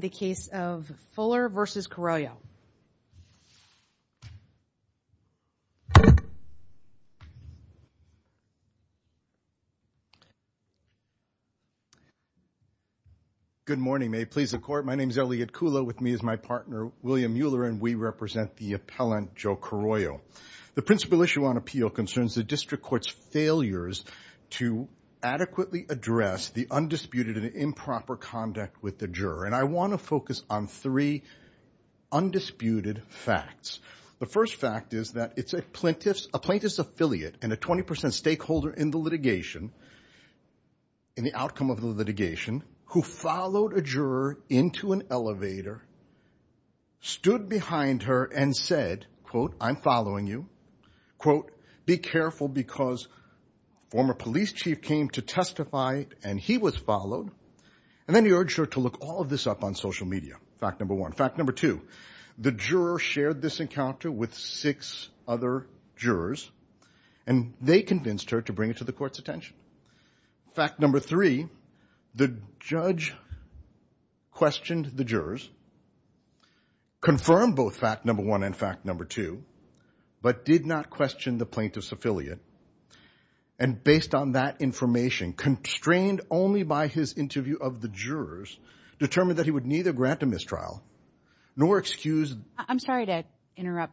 the case of Fuller v. Carollo good morning may it please the court my name is Elliot Kula with me is my partner William Mueller and we represent the appellant Joe Carollo the principal issue on appeal concerns the district court's failures to adequately address the undisputed and improper conduct with the juror and I want to focus on three undisputed facts the first fact is that it's a plaintiff's a plaintiff's affiliate and a twenty percent stakeholder in the litigation in the outcome of the litigation who followed a juror into an elevator stood behind her and said quote I'm following you quote be careful because former police chief came to testify and he was followed and then he urged her to look all this up on social media fact number one fact number two the juror shared this encounter with six other jurors and they convinced her to bring it to the court's attention fact number three the judge questioned the jurors confirmed both fact number one and fact number two but did not question the plaintiff's affiliate and based on that constrained only by his interview of the jurors determined that he would neither grant a mistrial nor excuse I'm sorry to interrupt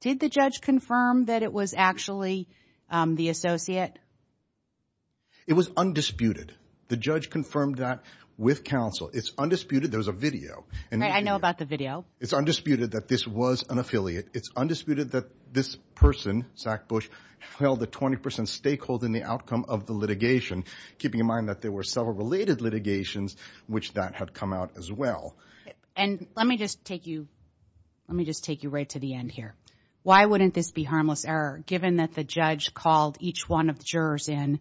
did the judge confirm that it was actually the associate it was undisputed the judge confirmed that with counsel it's undisputed there's a video and I know about the video it's undisputed that this was an affiliate it's undisputed that this person Zach Bush held a 20 percent stakeholder in the outcome of the litigation keeping in mind that there were several related litigations which that had come out as well and let me just take you let me just take you right to the end here why wouldn't this be harmless error given that the judge called each one of the jurors in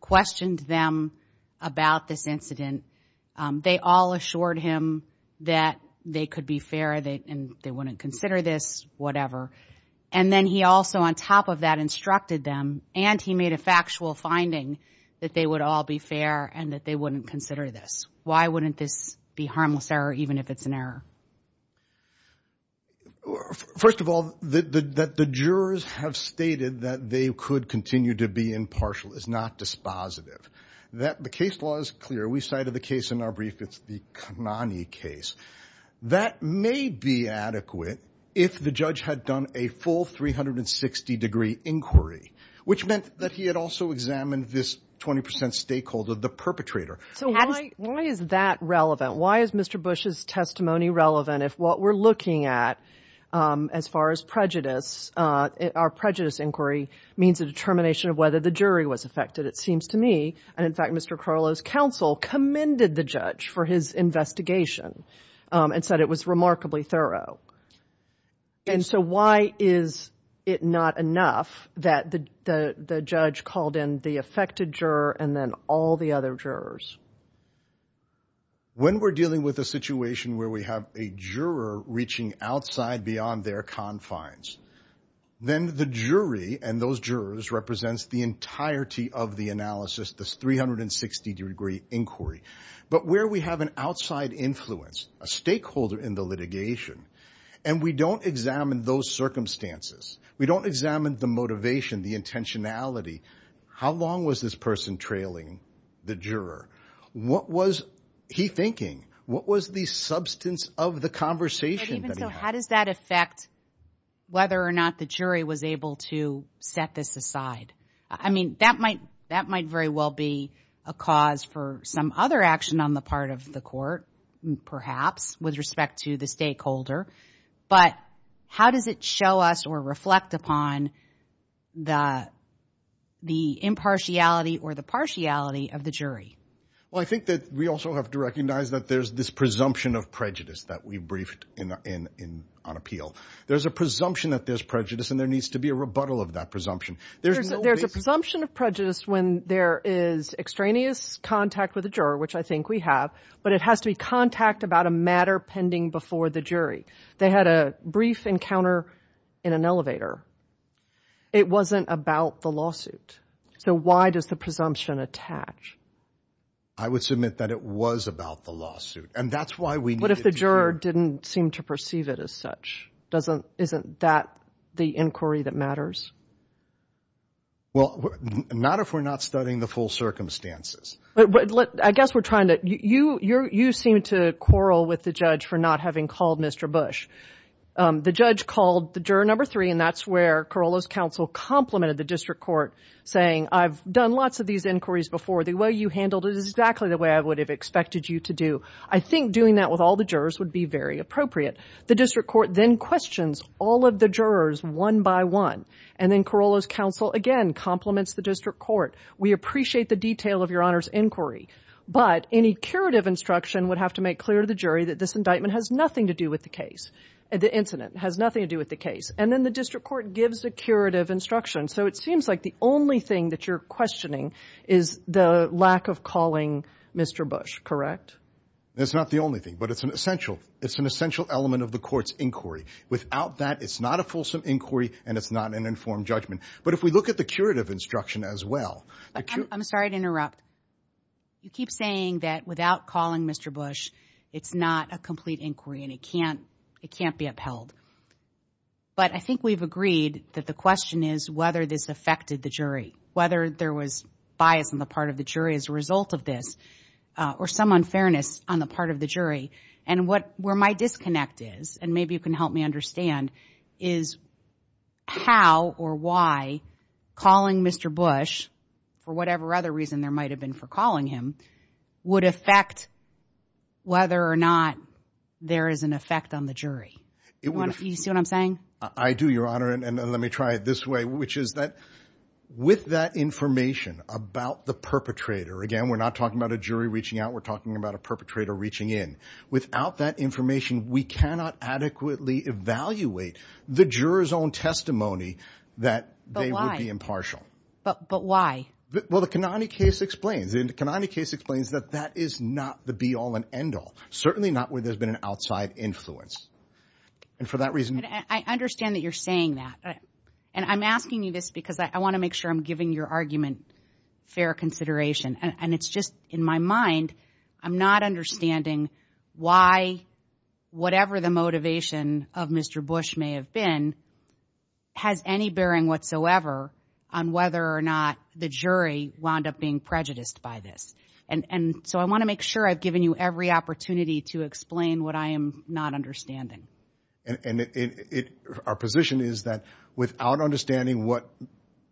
questioned them about this incident they all assured him that they could be fair and they wouldn't consider this whatever and then he also on top of that instructed them and he made a factual finding that they would all be fair and that they wouldn't consider this why wouldn't this be harmless error even if it's an error first of all that the jurors have stated that they could continue to be impartial is not dispositive that the case was clear we cited the case in our brief it's the case that may be adequate if the judge had done a full 360 degree inquiry which meant that he had also examined this 20 percent stakeholder the perpetrator so why is that relevant why is Mr. Bush's testimony relevant if what we're looking at as far as prejudice our prejudice inquiry means a determination whether the jury was affected it seems to me and in fact Mr. Carlo's counsel commended the judge for his investigation and said it was remarkably thorough and so why is it not enough that the the judge called in the affected juror and then all the other jurors when we're dealing with a situation where we have a juror reaching outside beyond their confines then the jury and those jurors represents the entirety of the analysis this 360 degree inquiry but where we have an outside influence a stakeholder in the litigation and we don't examine those circumstances we don't examine the motivation the intentionality how long was this person trailing the juror what was he thinking what was the substance of the conversation how does that affect whether or not the jury was able to set this aside I mean that might that might very well be a cause for some other action on the part of the court perhaps with respect to the stakeholder but how does it show us or reflect upon the impartiality or the partiality of the jury I think that we also have to recognize that there's this presumption of prejudice that we briefed in in on appeal there's a presumption that there's prejudice and there needs to be a rebuttal of that presumption there's a presumption of prejudice when there is extraneous contact with the juror which I think we have but it has to be contact about a matter pending before the jury they had a brief encounter in an elevator it wasn't about the lawsuit so why does the presumption attach I would submit that it was about the lawsuit and that's why we what if the juror didn't seem to perceive it as such isn't that the inquiry that matters well not if we're not studying the full circumstances I guess we're trying to you seem to quarrel with the judge for not having called Mr. Bush the judge called the juror number three and that's where Corolla's counsel complimented the district court saying I've done lots of these inquiries before the way you handled it is exactly the way I would have expected you to do I think doing that with all the jurors would be very appropriate the district court then questions all of the jurors one by one and then Corolla's counsel again compliments the district court we appreciate the detail of your honor's inquiry but any curative instruction would have to make clear to the jury that this indictment has nothing to do with the case the incident has nothing to do with the case and then the district court gives a curative instruction so it seems like the only thing that you're questioning is the lack of calling Mr. Bush correct that's not the only thing but it's an essential it's an essential element of the court's inquiry without that it's not a fulsome inquiry and it's not an informed judgment but if we look at the curative instruction as well I'm sorry to interrupt you keep saying that without calling Mr. Bush it's not a complete inquiry and it can't it can't be upheld but I think we've agreed that the question is whether this affected the whether there was bias on the part of the jury as a result of this or some unfairness on the part of the jury and what where my disconnect is and maybe you can help me understand is how or why calling Mr. Bush for whatever other reason there might have been for calling him would affect whether or not there is an effect on the jury you see what I'm saying I do your honor and let me try it this way which is that with that information about the perpetrator again we're not talking about a jury reaching out we're talking about a perpetrator reaching in without that information we cannot adequately evaluate the jurors own testimony that they would be impartial but but why well the Kanani case explains in the Kanani case explains that that is not the be-all and end-all certainly not where there's been an outside influence and for that reason I understand that you're saying that and I'm asking you this because I want to make sure I'm giving your argument fair consideration and it's just in my mind I'm not understanding why whatever the motivation of Mr. Bush may have been has any bearing whatsoever on whether or not the jury wound up being prejudiced by this and and so I want to make sure I've given you every opportunity to explain what I am not understanding and it our position is that without understanding what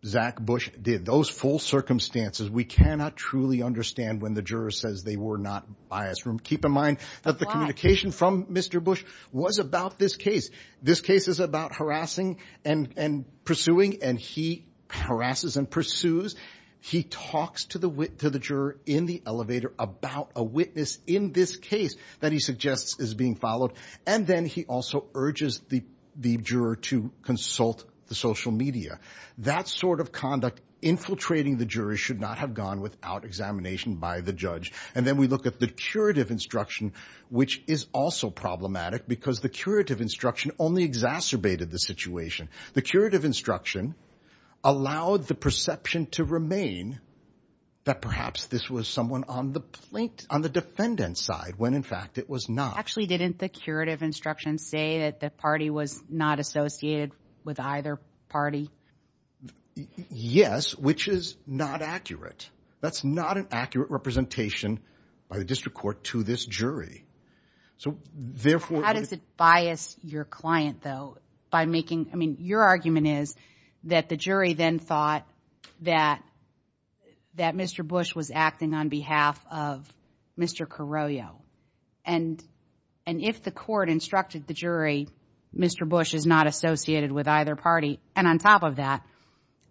Zach Bush did those full circumstances we cannot truly understand when the juror says they were not biased from keep in mind that the communication from Mr. Bush was about this case this case is about harassing and and pursuing and he harasses and pursues he talks to the wit to the juror in the elevator about a witness in this case that he suggests is being followed and then he also urges the the juror to consult the social media that sort of conduct infiltrating the jury should not have gone without examination by the judge and then we look at the curative instruction which is also problematic because the curative instruction only exacerbated the situation the curative instruction allowed the perception to remain that perhaps this was someone on the plate on the defendant's side when in fact it was not actually didn't the curative instruction say that the party was not associated with either party yes which is not accurate that's not an accurate representation by the district court to this jury so therefore how does it bias your client though by making I mean your argument is that the jury then thought that that Mr. Bush was acting on behalf of Mr. Carollo and and if the court instructed the jury Mr. Bush is not associated with either party and on top of that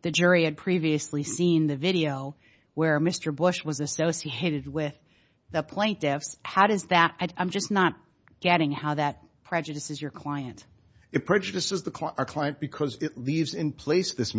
the jury had previously seen the video where Mr. Bush was associated with the plaintiffs how does that I'm just not getting how that prejudices your client it prejudices the client because it leaves in place this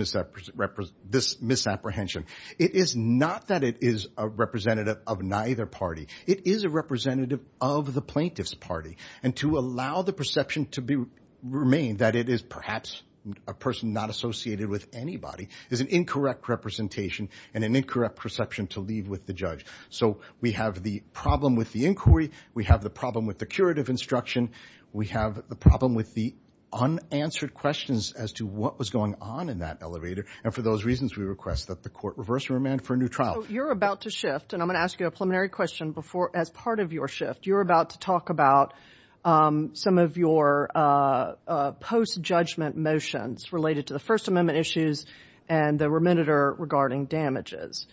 this misapprehension it is not that it is a representative of neither party it is a representative of the plaintiff's party and to allow the perception to be remain that it is perhaps a person not associated with anybody is an incorrect representation and an incorrect perception to leave with the judge so we have the problem with the inquiry we have the problem with the curative instruction we have the problem with the unanswered questions as to what was going on in that elevator and for those reasons we request that court reverse remand for a new trial you're about to shift and I'm going to ask you a preliminary question before as part of your shift you're about to talk about um some of your uh post judgment motions related to the first amendment issues and the remediator regarding damages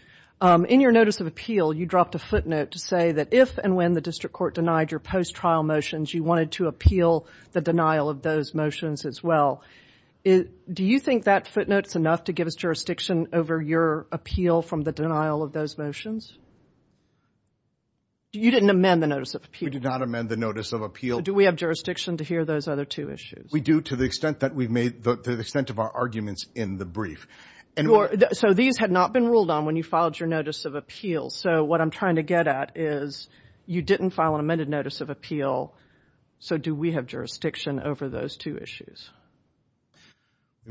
in your notice of appeal you dropped a footnote to say that if and when the district court denied your post trial motions you wanted to appeal the denial of those motions as well do you think that footnote's enough to give us jurisdiction over your appeal from the denial of those motions you didn't amend the notice of appeal we did not amend the notice of appeal do we have jurisdiction to hear those other two issues we do to the extent that we've made the extent of our arguments in the brief and so these had not been ruled on when you filed your notice of appeal so what i'm trying to get at is you didn't file an amended notice of appeal so do we have jurisdiction over those two issues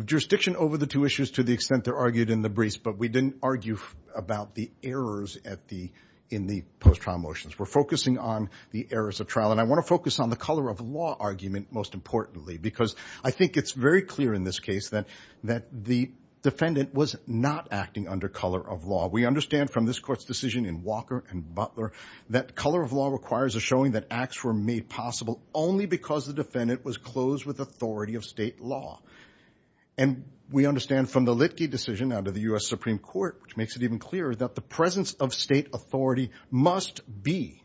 jurisdiction over the two issues to the extent they're argued in the briefs but we didn't argue about the errors at the in the post trial motions we're focusing on the errors of trial and i want to focus on the color of law argument most importantly because i think it's very clear in this case that that the defendant was not acting under color of law we understand from this court's decision in walker and butler that color of law requires a showing that acts were made possible only because the defendant was closed with authority of state law and we understand from the litigate decision out of the u.s supreme court which makes it even clearer that the presence of state authority must be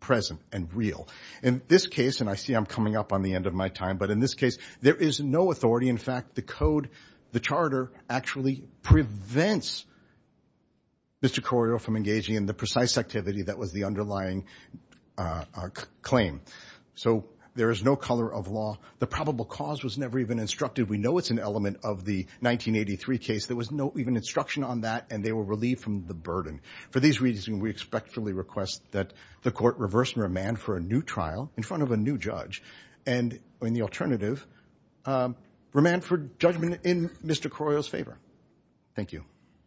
present and real in this case and i see i'm coming up on the end of my time but in this case there is no authority in fact the code the charter actually prevents mr corio from engaging in the precise activity that was the underlying claim so there is no color of law the probable cause was never even instructed we know it's an element of the 1983 case there was no even instruction on that and they were relieved from the burden for these reasons we expectfully request that the court reverse and remand for a new trial in front of a new judge and in the alternative remand for judgment in mr corio's favor thank you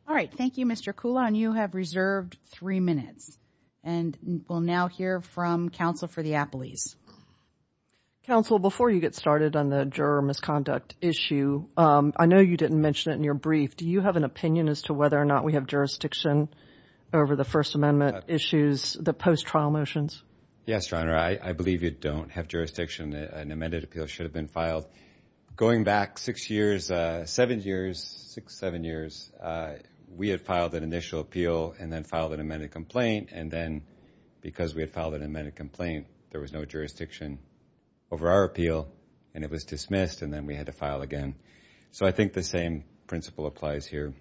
all right thank you mr cool and you have reserved three minutes and we'll now hear from counsel for the appleys counsel before you get started on the juror misconduct issue um i know you didn't mention it in your brief do you have an opinion as to whether or not we have jurisdiction over the first amendment issues the post-trial motions yes your honor i i believe you don't have jurisdiction an amended appeal should have been filed going back six years uh seven years six seven years uh we had filed an initial appeal and then filed an amended complaint and then because we had filed an amended complaint there was no jurisdiction over our appeal and it was dismissed and then we had to file again so i think the same principle applies here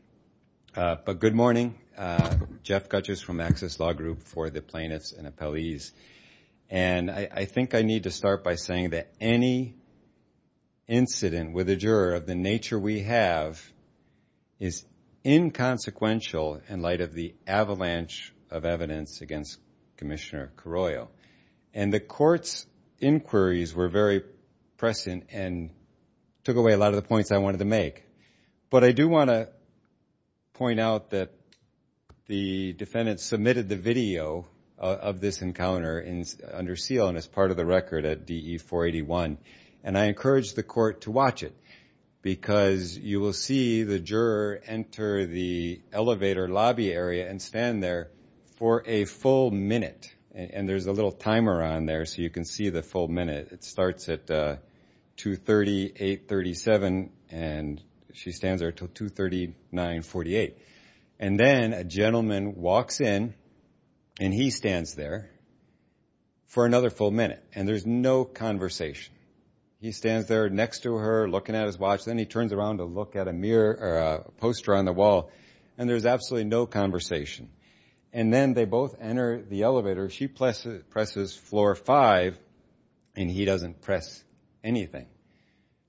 uh but good morning uh jeff gutters from access law group for the plaintiffs and appellees and i i think i need to start by saying that any incident with a juror of the nature we have is inconsequential in light of the avalanche of evidence against commissioner carollo and the court's inquiries were very present and took away a lot of the points i wanted to make but i do want to point out that the defendant submitted the video of this encounter in under seal and as part of the record at de 481 and i encourage the court to watch it because you will see the juror enter the elevator lobby area and stand there for a full minute and there's a little timer on there so you can see the full minute it starts at uh 238 37 and she stands there till 239 48 and then a gentleman walks in and he stands there for another full minute and there's no conversation he stands there next to her looking at his watch then he turns around to look at a mirror or a poster on the wall and there's absolutely no conversation and then they both enter the elevator she presses floor five and he doesn't press anything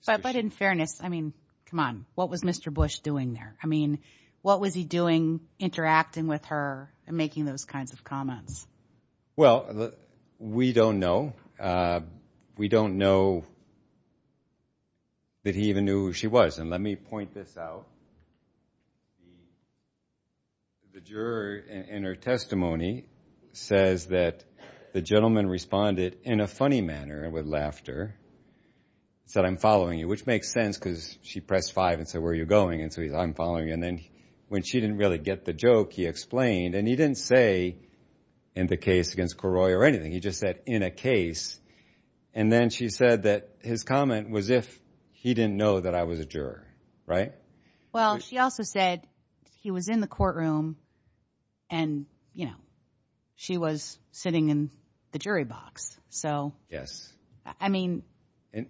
but in fairness i mean come on what was mr bush doing there i mean what was he doing interacting with her and making those kinds of comments well we don't know we don't know that he even knew who she was and let me point this out the juror in her testimony says that the gentleman responded in a funny manner with laughter he said i'm following you which makes sense because she pressed five and said where you're going and so he's i'm following and then when she didn't really get the joke he explained and he didn't say in the case against coroy or anything he just said in a case and then she said that his comment was if he didn't know that i was a juror right well she also said he was in the courtroom and you know she was sitting in the jury box so yes i mean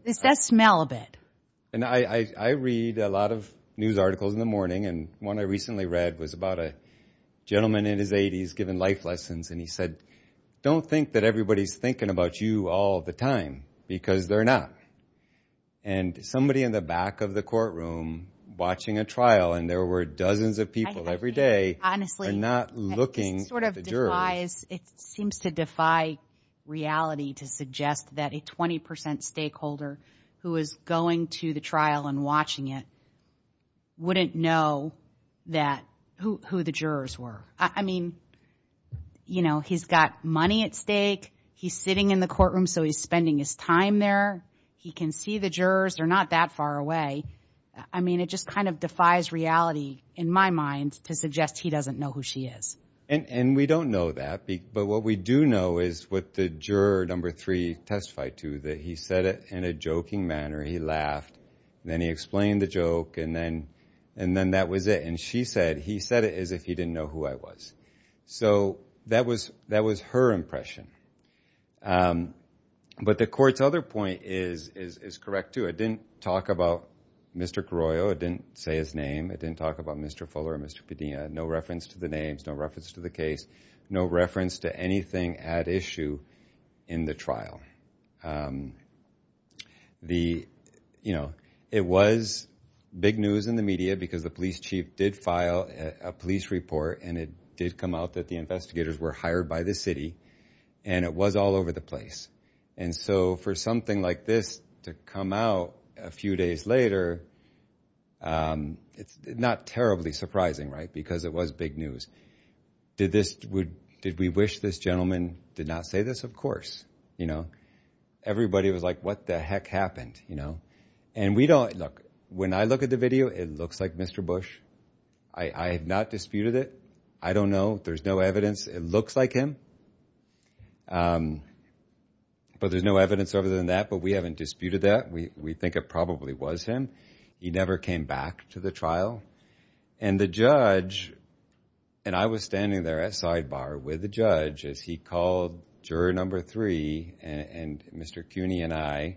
is that smell a bit and i i read a lot of news articles in the morning and one i recently read was about a gentleman in his 80s giving life lessons and he said don't think that everybody's thinking about you all the time because they're not and somebody in the back of the courtroom watching a trial and there were dozens of people every day honestly not looking sort of the juror is it seems to defy reality to suggest that a twenty percent stakeholder who is going to the trial and watching it wouldn't know that who the jurors were i mean you know he's got money at stake he's sitting in the courtroom so he's spending his time there he can see the jurors they're not that far away i mean it just kind of defies reality in my mind to suggest he doesn't know who she is and and we don't know that but what we do know is what the juror number three testified to that he said it in a joking manner he laughed then he explained the joke and then and then that was it and she said he said it as if he didn't know who i was so that was that was her impression but the court's other point is is is correct too it didn't talk about mr carollo it didn't say his name it didn't talk about mr fuller mr pedina no reference to the names no reference to the case no reference to anything at issue in the trial the you know it was big news in the media because the police chief did file a police report and it did come out that the investigators were hired by the city and it was all over the place and so for something like this to come out a few days later um it's not terribly surprising right because it was big news did this would did we wish this gentleman did not say this of course you know everybody was like what the heck happened you know and we don't look when i look at the video it looks like mr bush i i have not disputed it i don't know there's no evidence it looks like him um but there's no evidence other than that but we haven't disputed that we we think it probably was him he never came back to the trial and the judge and i was standing there at sidebar with the judge as he called juror number three and and mr cooney and i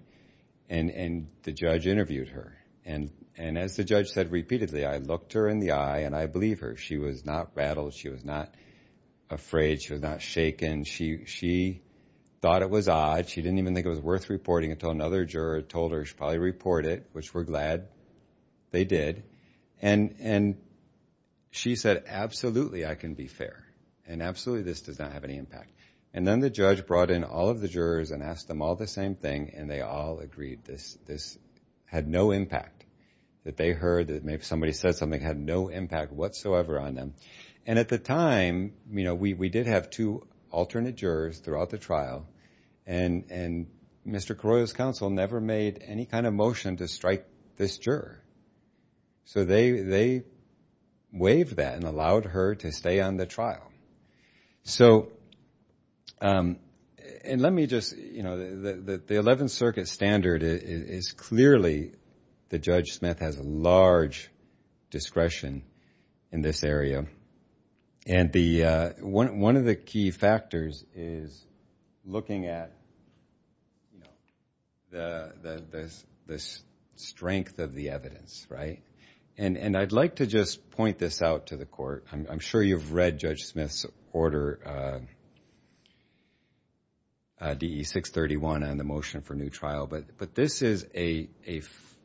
and and the judge interviewed her and and as the judge said repeatedly i looked her in the eye and i believe her she was not rattled she was not afraid she was not shaken she she thought it was odd she didn't even think it was worth reporting until another told her she probably report it which we're glad they did and and she said absolutely i can be fair and absolutely this does not have any impact and then the judge brought in all of the jurors and asked them all the same thing and they all agreed this this had no impact that they heard that maybe somebody said something had no impact whatsoever on them and at the time you know we we did have two alternate jurors throughout the trial and and mr corolla's counsel never made any kind of motion to strike this juror so they they waived that and allowed her to stay on the trial so um and let me just you know the the 11th circuit standard is clearly the judge smith has a large discretion in this area and the uh one one of the key factors is looking at you know the the the strength of the evidence right and and i'd like to just point this out to the court i'm sure you've read judge smith's order uh uh de631 on the motion for new trial but but this is a a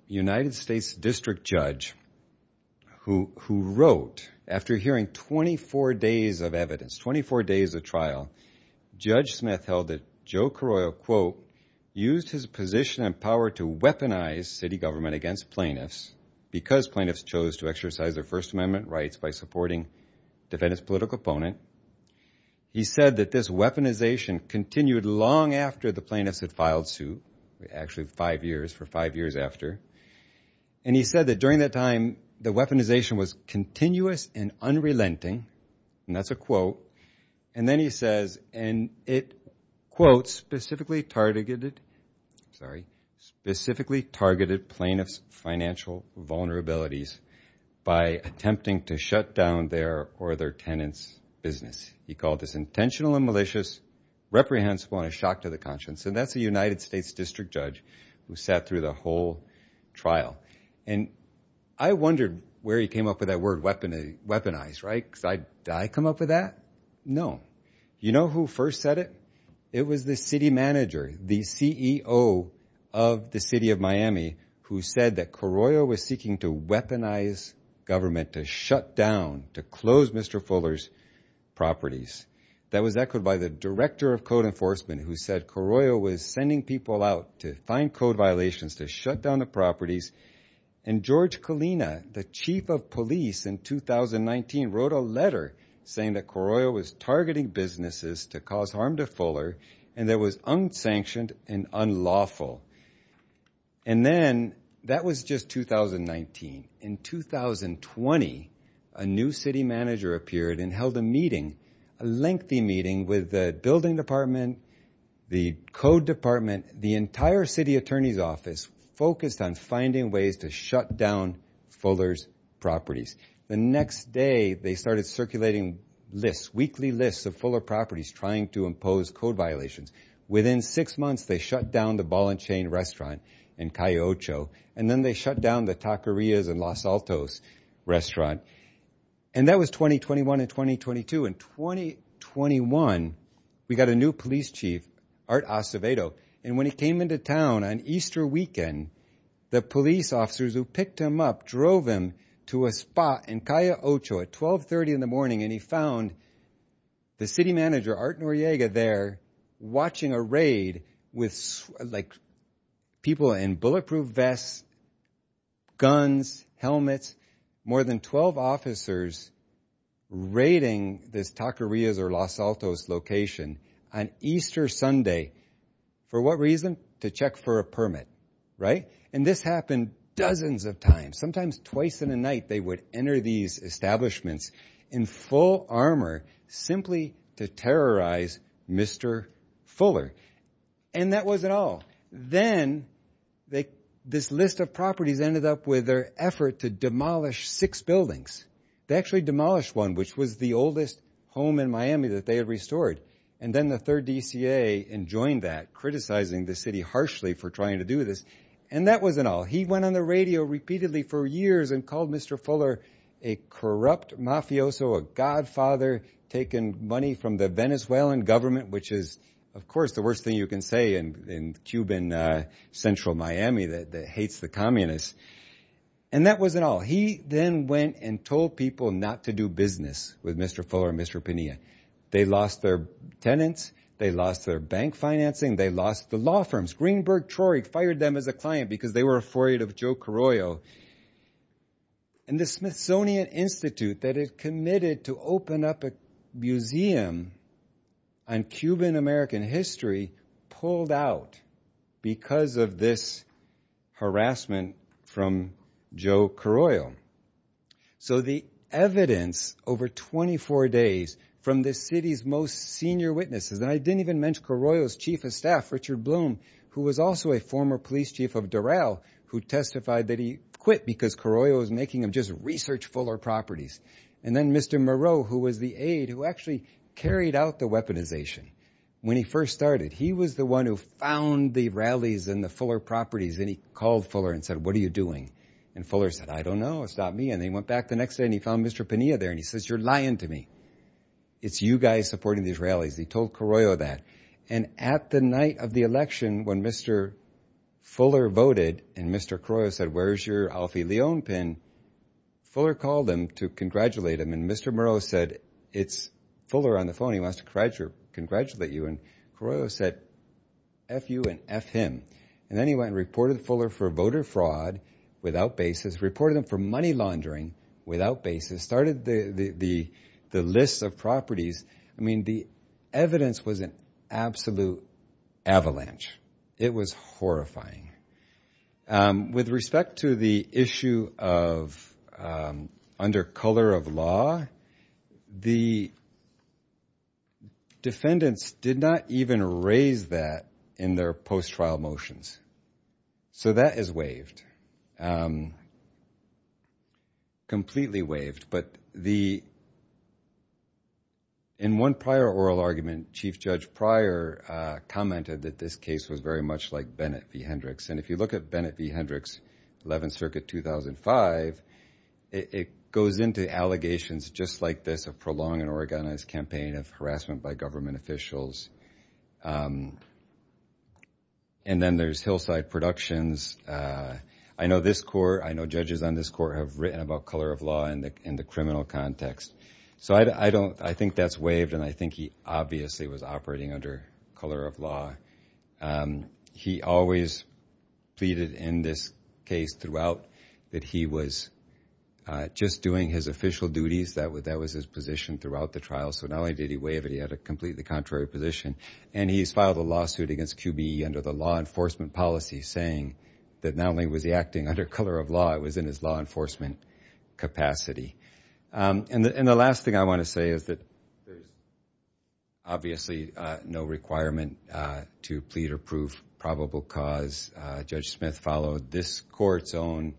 united states district judge who who wrote after hearing 24 days of evidence 24 days of trial judge smith held that joe corolla quote used his position and power to weaponize city government against plaintiffs because plaintiffs chose to exercise their first amendment rights by supporting defendant's political opponent he said that this weaponization continued long after the plaintiffs had filed suit actually five years for five years after and he said that during that time the weaponization was continuous and unrelenting and that's a quote and then he says and it quotes specifically targeted sorry specifically targeted plaintiffs financial vulnerabilities by attempting to shut down their or their tenants business he called this intentional and malicious reprehensible and a shock to the conscience and that's a united states district judge who sat through the whole trial and i wondered where he came up with that word weapon weaponized right because i i come up with that no you know who first said it it was the city manager the ceo of the city of miami who said that corolla was seeking to weaponize government to shut down to close mr fuller's properties that was echoed by the director of code enforcement who said corolla was sending people out to find code violations to shut down the properties and george kalina the chief of police in 2019 wrote a letter saying that corolla was targeting businesses to cause harm to fuller and there was unsanctioned and unlawful and then that was just 2019 in 2020 a new city manager appeared and held a meeting a lengthy meeting with the building department the code department the entire city attorney's office focused on finding ways to shut down fuller's properties the next day they started circulating lists weekly lists of fuller properties trying to impose code violations within six months they shut down the ball and chain restaurant in cayocho and then they shut down the taquerias and los altos restaurant and that was 2021 and 2022 in 2021 we got a new police chief art acevedo and when he came into town on easter weekend the police officers who picked him up drove him to a spot in cayocho at 12 30 in the morning and he found the city manager art noriega there watching a raid with like people in bulletproof vests guns helmets more than 12 officers raiding this taquerias or los altos location on easter sunday for what reason to check for a permit right and this happened dozens of times sometimes twice in a night they would enter these establishments in full armor simply to terrorize mr fuller and that was it all then they this list of properties ended up with their effort to demolish six buildings they actually demolished one which was the oldest home in miami that they had restored and then the third dca and joined that criticizing the city harshly for trying to do this and that wasn't all he went on the radio repeatedly for years and called mr fuller a corrupt mafioso a godfather taking money from the venezuelan government which is of course the worst thing you can say in in cuban uh central miami that that hates the communists and that wasn't all he then went and told people not to do business with mr fuller and mr pinea they lost their tenants they lost their bank financing they lost the law firms greenberg troy fired them as a client because they were afraid of joe carollo and the smithsonian institute that had committed to open up a museum on cuban american history pulled out because of this harassment from joe carollo so the evidence over 24 days from the city's most senior witnesses and i didn't even mention carollo's chief of staff richard bloom who was also a former police chief of durell who testified that he quit because carollo was making him just research fuller properties and then mr moreau who was the aide who actually carried out the weaponization when he first started he was the one who found the rallies in the fuller properties and he called fuller and said what are you doing and fuller said i don't know it's not me and they went back the next day and he found mr pinea there and he says you're lying to me it's you guys supporting these rallies he told carollo that and at the night of the election when mr fuller voted and mr carollo said where's your alfie leone pin fuller called him to congratulate him and mr moreau said it's fuller on the phone he wants to congratulate you and carollo said f you and f him and then he went and reported fuller for voter fraud without basis reported them for money laundering without basis started the the the list of properties i mean the evidence was an absolute avalanche it was horrifying um with respect to the issue of under color of law the defendants did not even raise that in their post-trial motions so that is waived um completely waived but the in one prior oral argument chief judge prior uh commented that this case was very much like bennett v hendrix and if you look at bennett v hendrix 11th circuit 2005 it goes into allegations just like this of prolonging an organized campaign of harassment by government officials um and then there's hillside productions uh i know this court i know judges on this court have written about color of in the in the criminal context so i don't i think that's waived and i think he obviously was operating under color of law um he always pleaded in this case throughout that he was uh just doing his official duties that would that was his position throughout the trial so not only did he waive it he had a completely contrary position and he's filed a lawsuit against qb under the law enforcement policy saying that not only was he acting under color of law it was in his law enforcement capacity um and the and the last thing i want to say is that there's obviously uh no requirement uh to plead or prove probable cause uh judge smith followed this court's own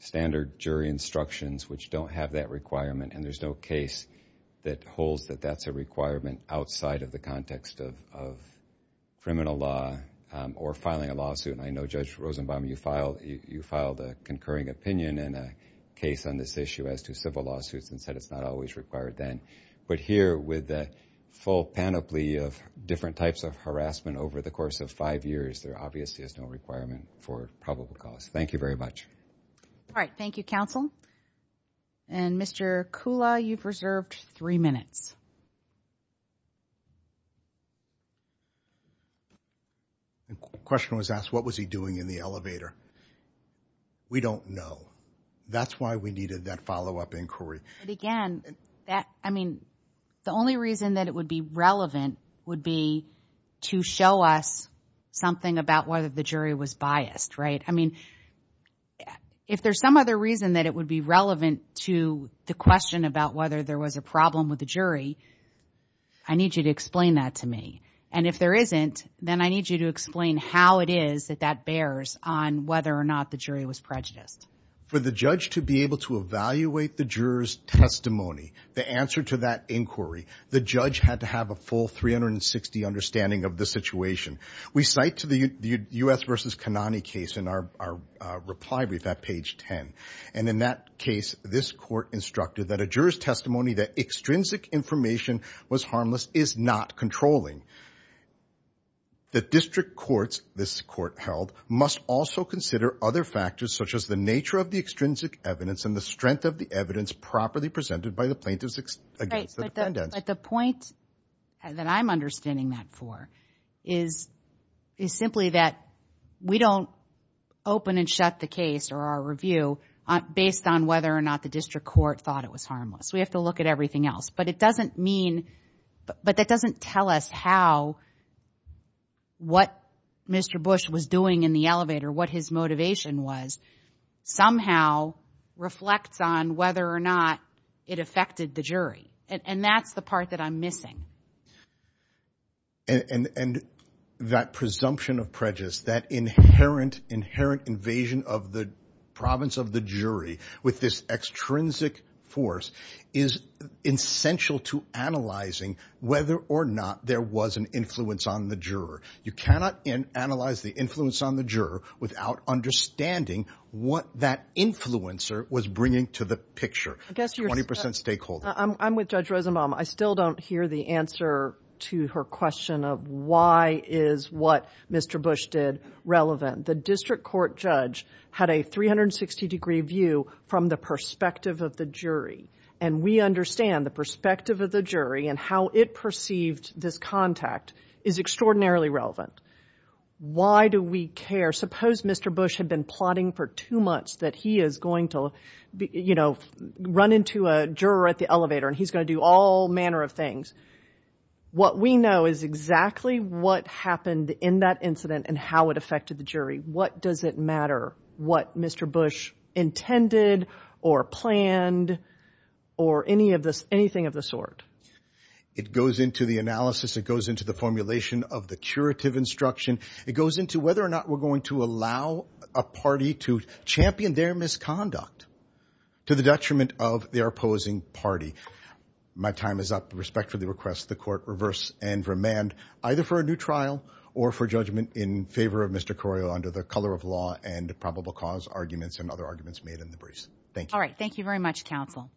standard jury instructions which don't have that requirement and there's no case that holds that that's a requirement outside of the context of of criminal law or filing a lawsuit and i know judge rosenbaum you filed you filed a concurring opinion and a case on this issue as to civil lawsuits and said it's not always required then but here with the full panoply of different types of harassment over the course of five years there obviously is no requirement for probable cause thank you very much all right thank you counsel and mr kula you've reserved three minutes you question was asked what was he doing in the elevator we don't know that's why we needed that follow-up inquiry but again that i mean the only reason that it would be relevant would be to show us something about whether the jury was biased right i mean if there's some other reason that it would be relevant to the question about whether there was a problem with the jury i need you to explain that to me and if there isn't then i need you to explain how it is that that bears on whether or not the jury was prejudiced for the judge to be able to evaluate the juror's testimony the answer to that inquiry the judge had to have a full 360 understanding of the situation we cite to the u.s versus kanani case in our our reply brief at page 10 and in that case this court instructed that a juror's testimony that extrinsic information was harmless is not controlling the district courts this court held must also consider other factors such as the nature of the extrinsic evidence and the strength of the evidence properly presented by the plaintiffs against the defendant but the point that i'm understanding that for is is simply that we don't open and shut the case or our review based on whether or not the district court thought it was harmless we have to look at everything else but it doesn't mean but that doesn't tell us how what mr bush was doing in the elevator what his motivation was somehow reflects on whether or not it affected the jury and that's the part that i'm missing and and that presumption of prejudice that inherent inherent invasion of the province of the jury with this extrinsic force is essential to analyzing whether or not there was an influence on the juror you cannot analyze the influence on the juror without understanding what that influencer was bringing to the picture i guess you're 20 stakeholder i'm i'm with judge rosenbaum i still don't hear the answer to her question of why is what mr bush did relevant the district court judge had a 360 degree view from the perspective of the jury and we understand the perspective of the jury and how it perceived this contact is extraordinarily relevant why do we care suppose mr bush had been plotting for two months that he is going to you know run into a juror at the elevator and he's going to do all manner of things what we know is exactly what happened in that incident and how it affected the jury what does it matter what mr bush intended or planned or any of this anything of the sort it goes into the analysis it goes into the formulation of the curative instruction it goes into whether or not we're going to allow a party to champion their misconduct to the detriment of the opposing party my time is up respect for the request the court reverse and remand either for a new trial or for judgment in favor of mr corio under the color of law and probable cause arguments and other arguments made in the briefs thank you all right thank you very much counsel